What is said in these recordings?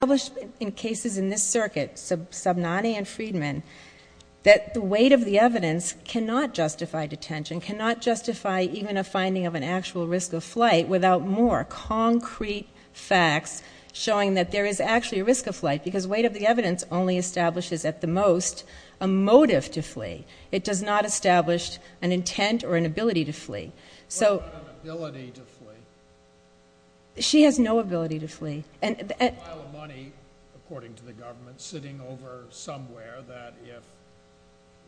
published in cases in this circuit, Sabnani and Friedman, that the weight of the evidence cannot justify detention, cannot justify even a finding of an actual risk of flight, without more concrete facts showing that there is actually a risk of flight, because weight of the evidence only establishes, at the most, a motive to flee. It does not establish an intent or an ability to flee. What about an ability to flee? She has no ability to flee. There's a pile of money, according to the government, sitting over somewhere that if...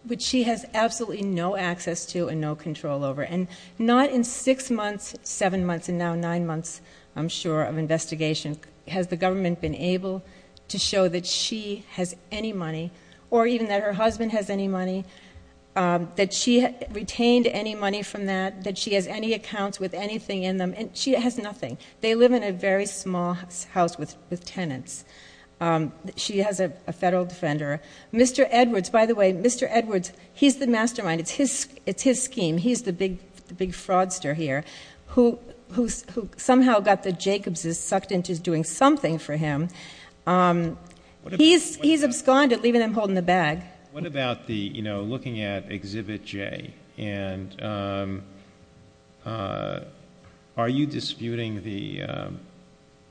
Which she has absolutely no access to and no control over. And not in six months, seven months, and now nine months, I'm sure, of investigation has the government been able to show that she has any money, or even that her husband has any money, that she retained any money from that, that she has any accounts with anything in them. And she has nothing. They live in a very small house with tenants. She has a federal defender. Mr. Edwards, by the way, Mr. Edwards, he's the mastermind. It's his scheme. He's the big fraudster here, who somehow got the Jacobses sucked into doing something for him. He's absconded, leaving them holding the bag. What about looking at Exhibit J? Are you disputing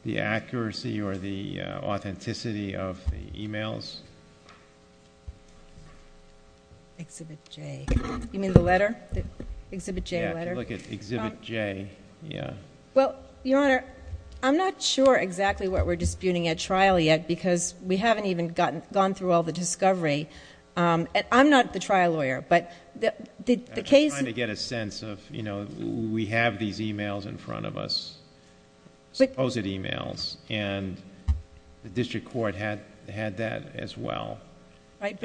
the accuracy or the authenticity of the e-mails? Exhibit J? You mean the letter? The Exhibit J letter? Yeah, if you look at Exhibit J, yeah. Well, Your Honor, I'm not sure exactly what we're disputing at trial yet, because we haven't even gone through all the discovery. I'm not the trial lawyer, but the case... I'm just trying to get a sense of, you know, we have these e-mails in front of us, supposed e-mails, and the district court had that as well. Right,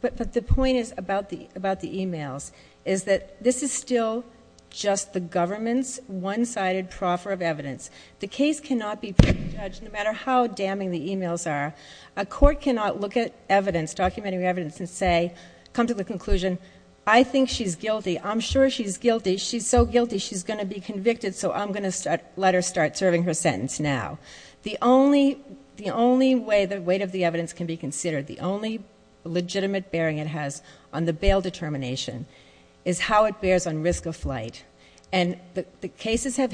but the point is about the e-mails, is that this is still just the government's one-sided proffer of evidence. The case cannot be pre-judged, no matter how damning the e-mails are. A court cannot look at evidence, documentary evidence, and say, come to the conclusion, I think she's guilty, I'm sure she's guilty, she's so guilty she's going to be convicted, so I'm going to let her start serving her sentence now. The only way the weight of the evidence can be considered, the only legitimate bearing it has on the bail determination, is how it bears on risk of flight. And the cases have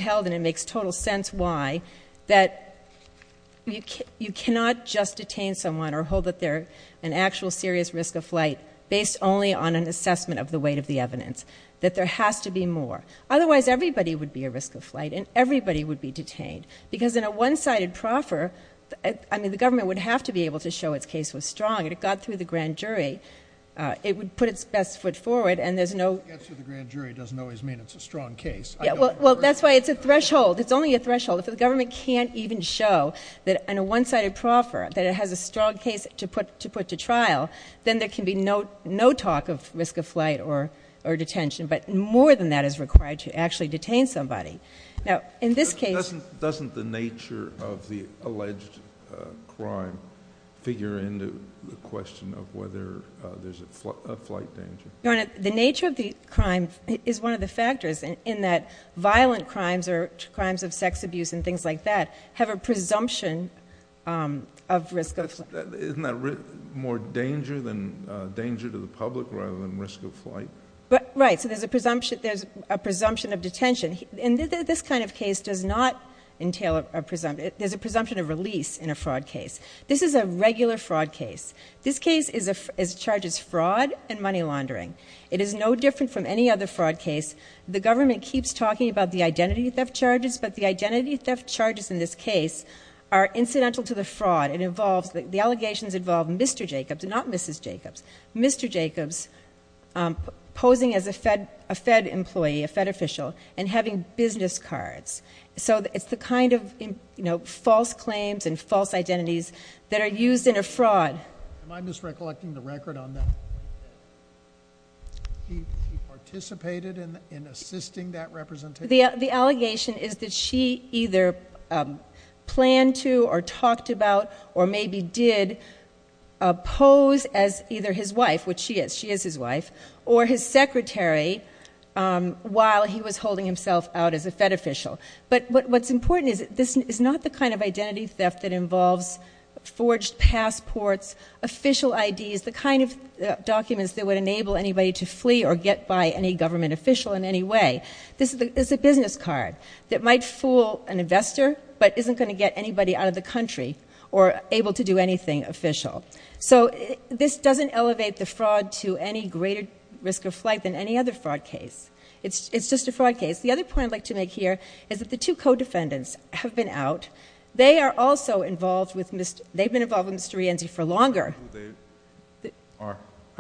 not just detained someone or hold that they're an actual serious risk of flight, based only on an assessment of the weight of the evidence. That there has to be more. Otherwise, everybody would be a risk of flight, and everybody would be detained. Because in a one-sided proffer, I mean, the government would have to be able to show its case was strong. If it got through the grand jury, it would put its best foot forward, and there's no... If it gets through the grand jury, it doesn't always mean it's a strong case. Yeah, well, that's why it's a threshold. It's only a threshold. If the government can't even show that in a one-sided proffer, that it has a strong case to put to trial, then there can be no talk of risk of flight or detention. But more than that is required to actually detain somebody. Now, in this case... Doesn't the nature of the alleged crime figure into the question of whether there's a flight danger? Your Honor, the nature of the crime is one of the factors in that violent crimes or crimes of sex abuse and things like that have a presumption of risk of... Isn't that more danger than danger to the public rather than risk of flight? Right. So there's a presumption of detention. And this kind of case does not entail a presumption. There's a presumption of release in a fraud case. This is a regular fraud case. This case is charged as fraud and money laundering. It is no different from any other fraud case. The government keeps talking about the identity theft charges, but the identity theft charges in this case are incidental to the fraud. It involves... The allegations involve Mr. Jacobs, not Mrs. Jacobs. Mr. Jacobs posing as a Fed employee, a Fed official, and having business cards. So it's the kind of false claims and false identities that are used in a fraud. Am I misrecollecting the record on that? He participated in assisting that representation? The allegation is that she either planned to or talked about or maybe did pose as either his wife, which she is. She is his wife. Or his secretary while he was holding himself out as a Fed official. But what's important is that this is not the kind of identity theft that involves forged passports, official IDs, the kind of documents that would enable anybody to flee or get by any government official in any way. This is a business card that might fool an investor but isn't going to get anybody out of the country or able to do anything official. So this doesn't elevate the fraud to any greater risk of flight than any other fraud case. It's just a fraud case. The other point I'd like to make here is that the two co-defendants have been out. They are also involved with Mr. Rienzi for longer.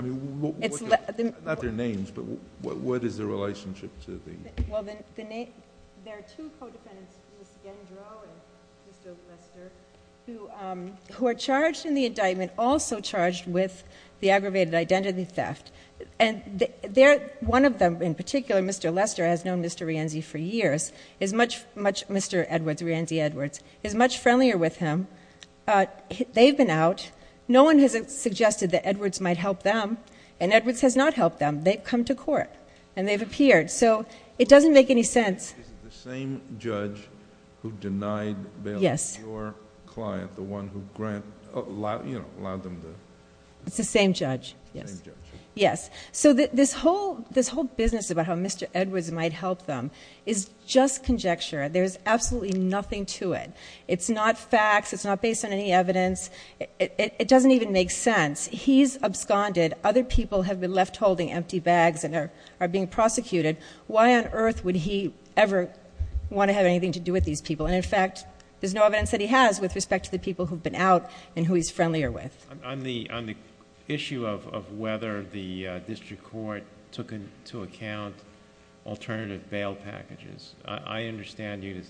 Not their names, but what is their relationship to the... There are two co-defendants, Ms. Gendro and Mr. Lester, who are charged in the indictment also charged with the aggravated identity theft. And one of them in particular, Mr. Rienzi, for years, Mr. Edwards, Rienzi Edwards, is much friendlier with him. They've been out. No one has suggested that Edwards might help them. And Edwards has not helped them. They've come to court and they've appeared. So it doesn't make any sense... Is it the same judge who denied bailing your client, the one who allowed them to... It's the same judge, yes. Yes. So this whole business about how Mr. Edwards might help them is just conjecture. There's absolutely nothing to it. It's not facts. It's not based on any evidence. It doesn't even make sense. He's absconded. Other people have been left holding empty bags and are being prosecuted. Why on earth would he ever want to have anything to do with these people? And in fact, there's no evidence that he has with respect to the people who've been out and who he's friendlier with. On the issue of whether the district court took into account alternative bail packages, I understand you to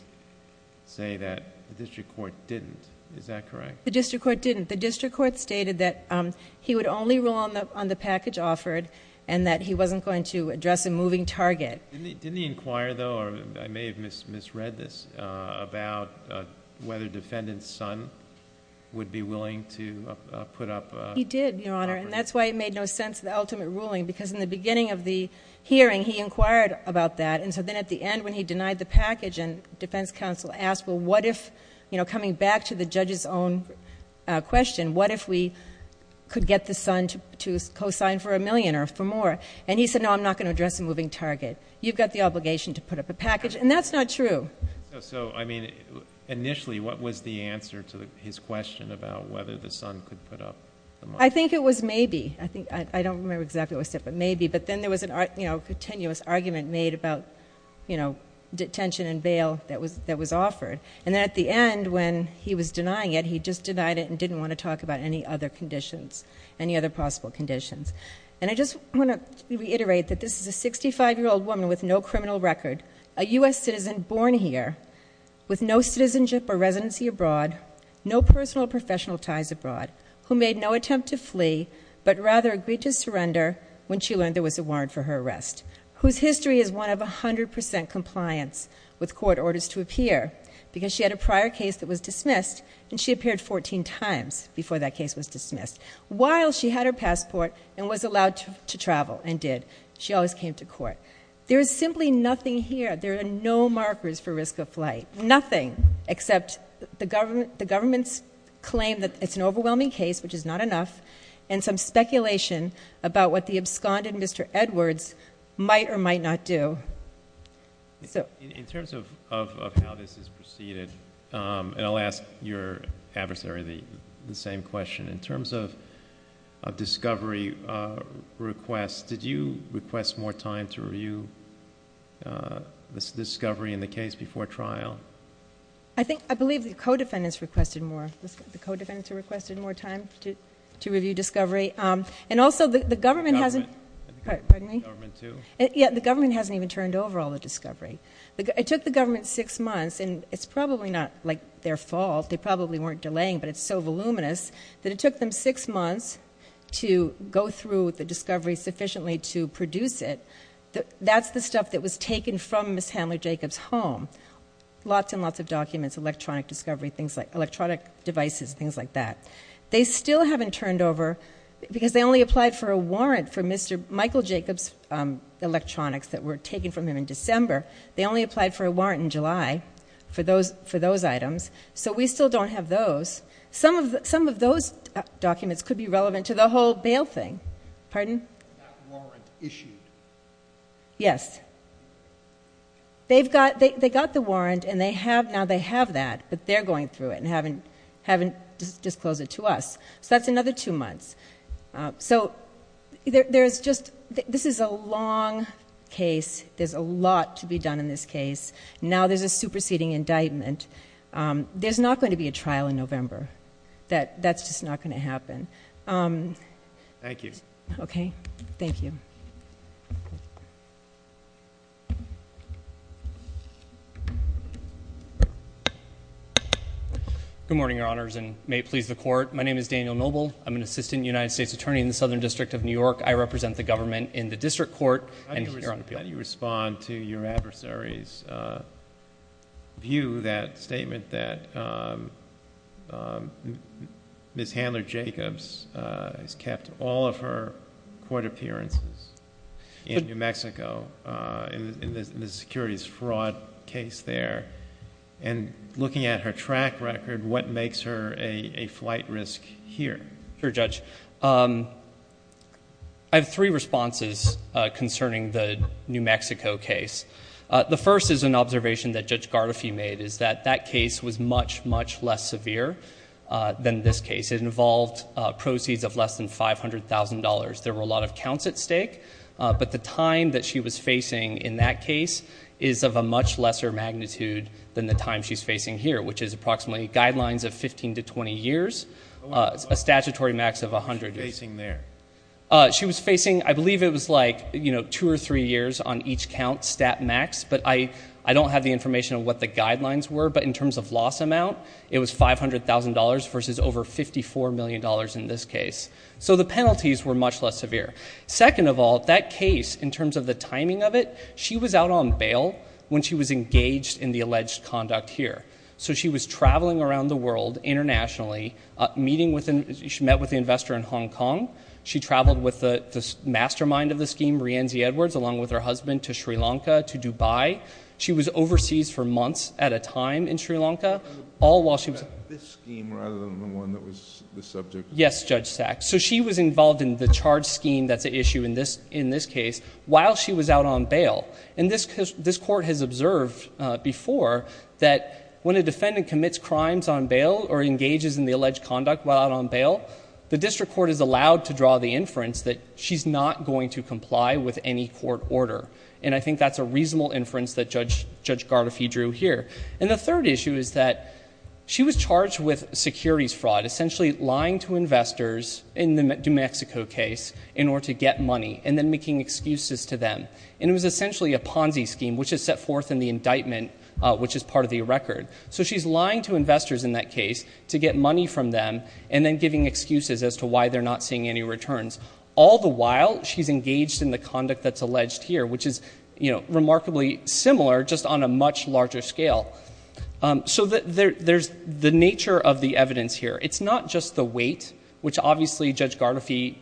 say that the district court didn't. Is that correct? The district court didn't. The district court stated that he would only rule on the package offered and that he wasn't going to address a moving target. Didn't he inquire, though, or I may have misread this, about whether Defendant Sun would be able to put up a package? He did, Your Honor. And that's why it made no sense, the ultimate ruling, because in the beginning of the hearing, he inquired about that. And so then at the end when he denied the package and defense counsel asked, well, what if, you know, coming back to the judge's own question, what if we could get the Sun to co-sign for a million or for more? And he said, no, I'm not going to address a moving target. You've got the obligation to put up a package. And that's not true. So I mean, initially, what was the answer to his question about whether the Sun could put up the money? I think it was maybe. I don't remember exactly what it said, but maybe. But then there was a continuous argument made about detention and bail that was offered. And then at the end when he was denying it, he just denied it and didn't want to talk about any other conditions, any other possible conditions. And I just want to reiterate that this is a 65-year-old woman with no criminal record, a U.S. citizen born here, with no citizenship or residency abroad, no personal or professional ties abroad, who made no attempt to flee, but rather agreed to surrender when she learned there was a warrant for her arrest, whose history is one of 100 percent compliance with court orders to appear, because she had a prior case that was dismissed, and she appeared 14 times before that case was dismissed, while she had her passport and was allowed to travel and did. She always came to court. There is simply nothing here. There are no markers for risk of flight, nothing, except the government's claim that it's an overwhelming case, which is not enough, and some speculation about what the absconded Mr. Edwards might or might not do. In terms of how this is preceded, and I'll ask your adversary the same question, in terms of discovery requests, did you request more time to review this discovery in the case before trial? I believe the co-defendants requested more time to review discovery, and also the government hasn't even turned over all the discovery. It took the government six months, and it's probably not their fault, they probably weren't delaying, but it's so voluminous, that it took them six months to go through the discovery sufficiently to produce it. That's the stuff that was taken from Ms. Handler-Jacobs' home. Lots and lots of documents, electronic discovery, electronic devices, things like that. They still haven't turned over, because they only applied for a warrant for Mr. Michael Jacobs' electronics that were taken from him in December. They only applied for a warrant in July for those items, so we still don't have those. Some of those documents could be relevant to the whole bail thing. Pardon? That warrant issued. Yes. They got the warrant, and now they have that, but they're going through it and haven't disclosed it to us. That's another two months. This is a long case. There's a lot to be done in this case. Now there's a superseding indictment. There's not going to be a trial in November. That's just not going to happen. Thank you. Okay. Thank you. Good morning, Your Honors, and may it please the Court. My name is Daniel Noble. I'm an assistant United States attorney in the Southern District of New York. I represent the government in the district court and here on appeal. I'd like to ask you to respond to your adversary's view, that statement that Ms. Handler-Jacobs has kept all of her court appearances in New Mexico, in the securities fraud case there, and looking at her track record, what makes her a flight risk here? Sure, Judge. I have three responses concerning the New Mexico case. The first is an observation that Judge Gardefee made, is that that case was much, much less severe than this case. It involved proceeds of less than $500,000. There were a lot of counts at stake, but the time that she was facing in that case is of a much lesser magnitude than the time she's facing here, which is approximately guidelines of 15 to 20 years, a statutory max of 100 years. How long was she facing there? She was facing, I believe it was like two or three years on each count, stat max, but I don't have the information on what the guidelines were, but in terms of loss amount, it was $500,000 versus over $54 million in this case. So the penalties were much less severe. Second of all, that case, in terms of the timing of it, she was out on bail when she was engaged in the alleged conduct here. So she was traveling around the world internationally, met with an investor in Hong Kong. She traveled with the mastermind of the scheme, Rienzi Edwards, along with her husband to Sri Lanka, to Dubai. She was overseas for months at a time in Sri Lanka. All while she was... This scheme rather than the one that was the subject... Yes, Judge Sachs. So she was involved in the charge scheme that's at issue in this case while she was out on bail. And this Court has observed before that when a defendant commits crimes on bail or engages in the alleged conduct while out on bail, the District Court is allowed to draw the inference that she's not going to comply with any court order. And I think that's a reasonable inference that Judge Gardafy drew here. And the third issue is that she was charged with securities fraud, essentially lying to investors in the New Mexico case in order to get money and then making excuses to them. And it was essentially a Ponzi scheme, which is set forth in the indictment, which is part of the record. So she's lying to investors in that case to get money from them and then giving excuses as to why they're not seeing any returns. All the while, she's engaged in the conduct that's alleged here, which is remarkably similar, just on a much larger scale. So there's the nature of the evidence here. It's not just the weight, which obviously Judge Gardafy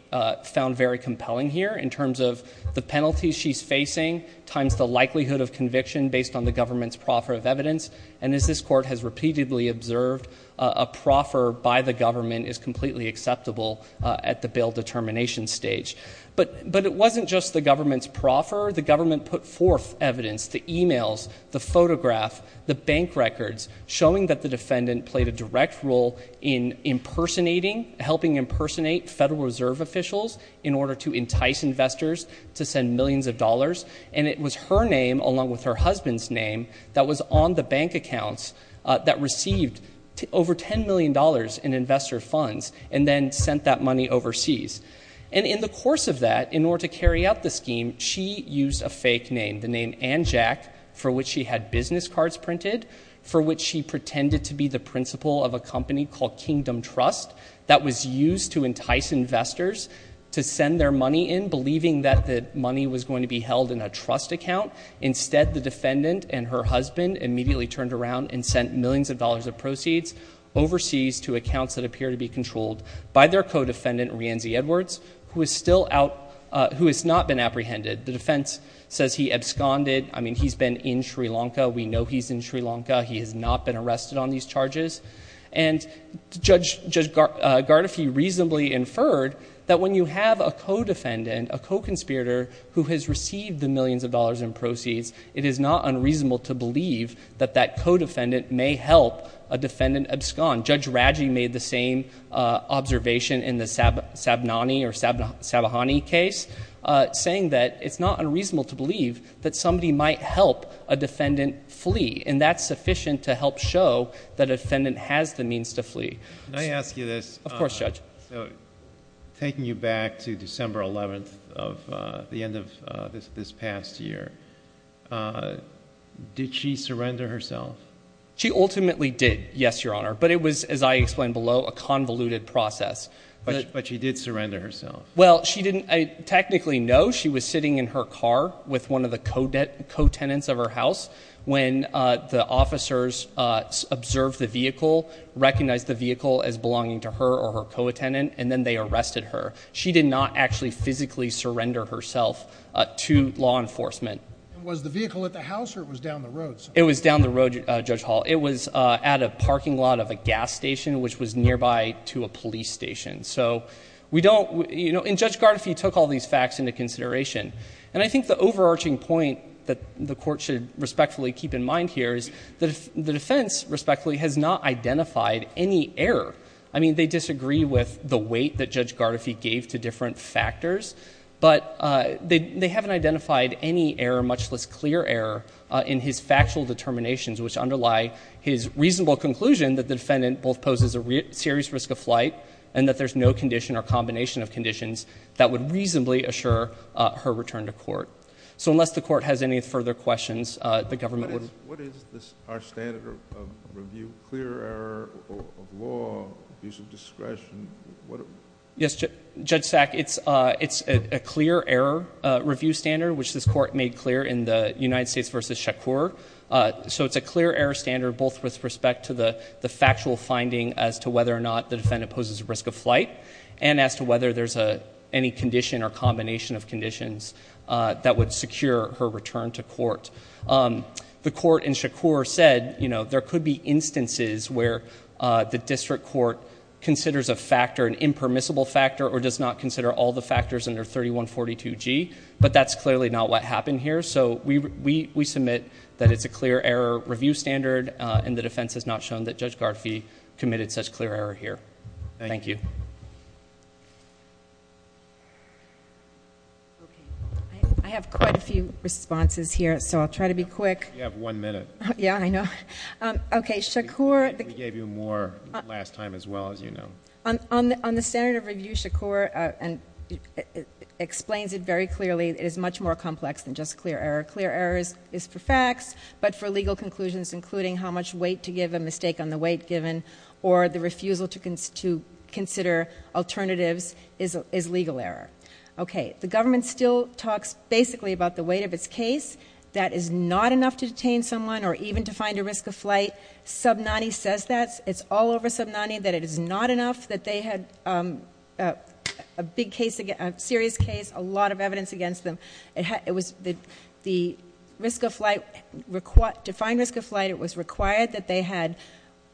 found very compelling here in terms of the penalty she's facing times the likelihood of conviction based on the government's proffer of evidence. And as this Court has repeatedly observed, a proffer by the government is completely acceptable at the bail determination stage. But it wasn't just the government's proffer. The government put forth evidence, the emails, the photograph, the bank records, showing that the defendant played a direct role in impersonating, helping impersonate Federal Reserve officials in order to entice investors to send millions of dollars. And it was her name, along with her husband's name, that was on the bank accounts that received over $10 million in investor funds and then sent that money overseas. And in the course of that, in order to carry out the scheme, she used a fake name, the name Ann Jack, for which she had business cards printed, for which she pretended to be the principal of a company called Kingdom Trust that was used to entice investors to send their money in, believing that the money was going to be held in a trust account. Instead, the defendant and her husband immediately turned around and sent millions of dollars of proceeds overseas to accounts that appear to be controlled by their co-defendant, Reanzi Edwards, who is still out, who has not been apprehended. The defense says he absconded. I mean, he's been in Sri Lanka. We know he's in Sri Lanka. He has not been arrested on these charges. And Judge Gardefee reasonably inferred that when you have a co-defendant, a co-conspirator who has received the millions of dollars in proceeds, it is not unreasonable to believe that that co-defendant may help a defendant abscond. Judge Raggi made the same observation in the Sabnani or Sabahani case, saying that it's not unreasonable to believe that somebody might help a defendant flee, and that's sufficient to help show that a defendant has the means to flee. Of course, Judge. So, taking you back to December 11th of the end of this past year, did she surrender herself? She ultimately did, yes, Your Honor. But it was, as I explained below, a convoluted process. But she did surrender herself? Well, she didn't technically know. She was sitting in her car with one of the co-tenants of her house when the officers observed the vehicle, recognized the vehicle as belonging to her or her co-attendant, and then they arrested her. She did not actually physically surrender herself to law enforcement. Was the vehicle at the house or it was down the road? It was down the road, Judge Hall. It was at a parking lot of a gas station, which was nearby to a police station. So, we don't, you know, and Judge Gardefee took all these facts into consideration. And I think the overarching point that the Court should respectfully keep in mind here is that the defense, respectfully, has not identified any error. I mean, they disagree with the weight that Judge Gardefee gave to different factors, but they haven't identified any error, much less clear error, in his factual determinations, which underlie his reasonable conclusion that the defendant both poses a serious risk of flight and that there's no condition or combination of conditions that would reasonably assure her return to court. So, unless the Court has any further questions, the government would— What is this, our standard of review? Clear error of law, abuse of discretion, what— Yes, Judge Sack, it's a clear error review standard, which this Court made clear in the United States v. Shakur. So, it's a clear error standard, both with respect to the factual finding as to whether or not the defendant poses a risk of flight and as to whether there's a—any condition or combination of conditions that would secure her return to court. The Court in Shakur said, you know, there could be instances where the district court considers a factor, an impermissible factor, or does not consider all the factors under 3142G, but that's clearly not what happened here. So, we submit that it's a clear error review standard and the defense has not shown that Judge Gardee committed such clear error here. Thank you. Okay. I have quite a few responses here, so I'll try to be quick. You have one minute. Yeah, I know. Okay, Shakur— We gave you more last time as well, as you know. On the standard of review, Shakur explains it very clearly. It is much more complex than just clear error. Clear error is for facts, but for legal conclusions, including how much on the weight given or the refusal to consider alternatives is legal error. Okay. The government still talks basically about the weight of its case. That is not enough to detain someone or even to find a risk of flight. Subnanny says that. It's all over Subnanny that it is not enough that they had a big case—a serious case, a lot of evidence against them. So, to find risk of flight, it was required that they had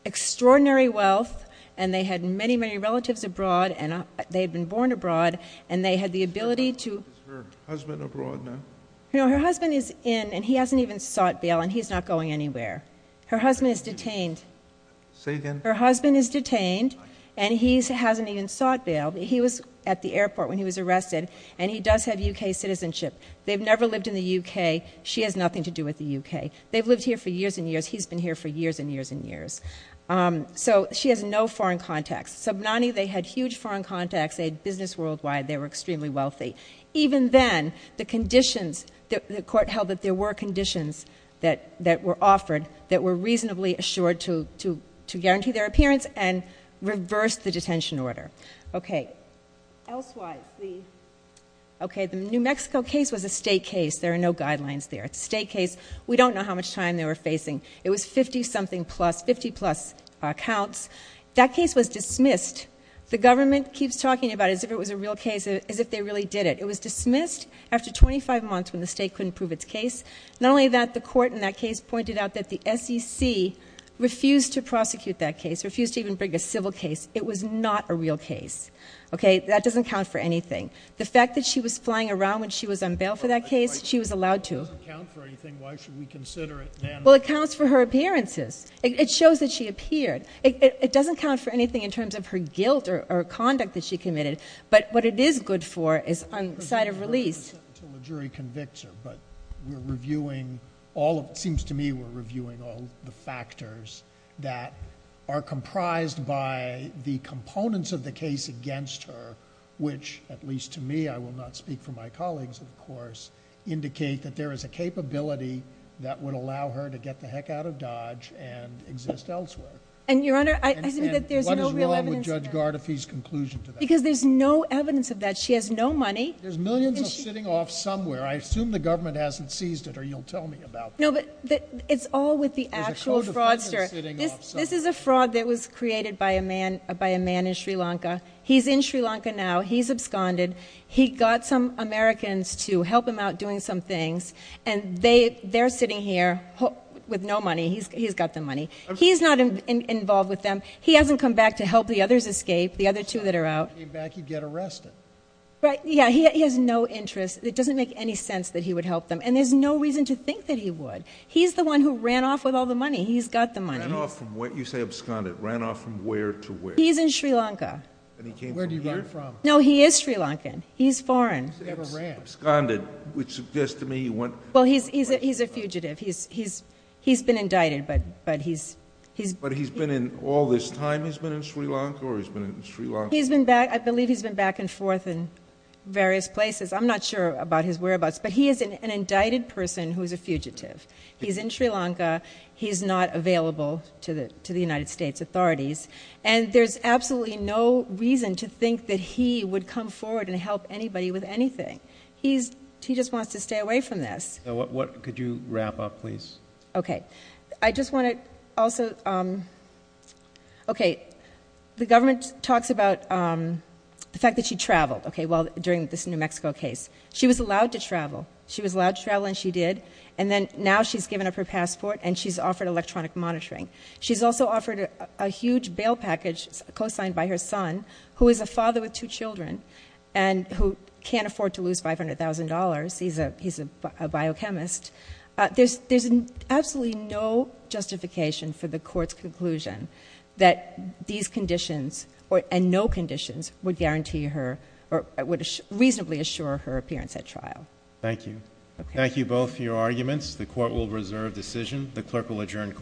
extraordinary wealth and they had many, many relatives abroad and they had been born abroad and they had the ability to— Is her husband abroad now? No, her husband is in and he hasn't even sought bail and he's not going anywhere. Her husband is detained. Say again? Her husband is detained and he hasn't even sought bail. He was at the airport when he was arrested and he does have U.K. citizenship. They've never lived in the U.K. She has nothing to do with the U.K. They've lived here for years and years. He's been here for years and years and years. So, she has no foreign contacts. Subnanny, they had huge foreign contacts. They had business worldwide. They were extremely wealthy. Even then, the conditions—the court held that there were conditions that were offered that were reasonably assured to guarantee their appearance and reversed the detention order. Okay. Elsewise, the—okay, the New Mexico case was a state case. There are no guidelines there. It's a state case. We don't know how much time they were facing. It was 50-something plus, 50-plus counts. That case was dismissed. The government keeps talking about it as if it was a real case, as if they really did it. It was dismissed after 25 months when the state couldn't prove its case. Not only that, the court in that case pointed out that the SEC refused to prosecute that case, refused to even bring a civil case. It was not a real case. Okay? That doesn't count for anything. The fact that she was flying around when she was on bail for that case, she was allowed to. It doesn't count for anything. Why should we consider it, ma'am? Well, it counts for her appearances. It shows that she appeared. It doesn't count for anything in terms of her guilt or conduct that she committed. But what it is good for is on the side of release. Because the court doesn't set until the jury convicts her. But we're reviewing all of—it seems to me we're reviewing all the factors that are comprised by the components of the case against her, which, at least to me—I will not speak for my colleagues, of course—indicate that there is a capability that would allow her to get the heck out of Dodge and exist elsewhere. And, Your Honor, I— And what is wrong with Judge Gardafy's conclusion to that? Because there's no evidence of that. She has no money. There's millions of sitting off somewhere. I assume the government hasn't seized it, or you'll tell me about that. No, but it's all with the actual fraudster. There's a code of conduct sitting off somewhere. This is a fraud that was created by a man in Sri Lanka. He's in Sri Lanka now. He's absconded. He got some Americans to help him out doing some things. And they're sitting here with no money. He's got the money. He's not involved with them. He hasn't come back to help the others escape, the other two that are out. If he came back, he'd get arrested. Right. Yeah. He has no interest. It doesn't make any sense that he would help them. And there's no reason to think that he would. He's the one who ran off with all the money. He's got the money. You say absconded. Ran off from where to where? He's in Sri Lanka. And he came from here? Where did he run from? No, he is Sri Lankan. He's foreign. He never ran. Absconded, which suggests to me he went... Well, he's a fugitive. He's been indicted, but he's... But he's been in all this time? He's been in Sri Lanka or he's been in Sri Lanka? He's been back... I believe he's been back and forth in various places. I'm not sure about his whereabouts, but he is an indicted person who is a fugitive. He's in Sri Lanka. He's not available to the United States authorities. And there's absolutely no reason to think that he would come forward and help anybody with anything. He just wants to stay away from this. Could you wrap up, please? Okay. I just want to also... Okay. The government talks about the fact that she traveled during this New Mexico case. She was allowed to travel. She was allowed to travel and she did. And then now she's given up her passport and she's offered electronic monitoring. She's also offered a huge bail package co-signed by her son, who is a father with two children and who can't afford to lose $500,000. He's a biochemist. There's absolutely no justification for the court's conclusion that these conditions and no conditions would guarantee her or would reasonably assure her appearance at trial. Thank you. Thank you both for your arguments. The court will reserve decision. The clerk will adjourn court.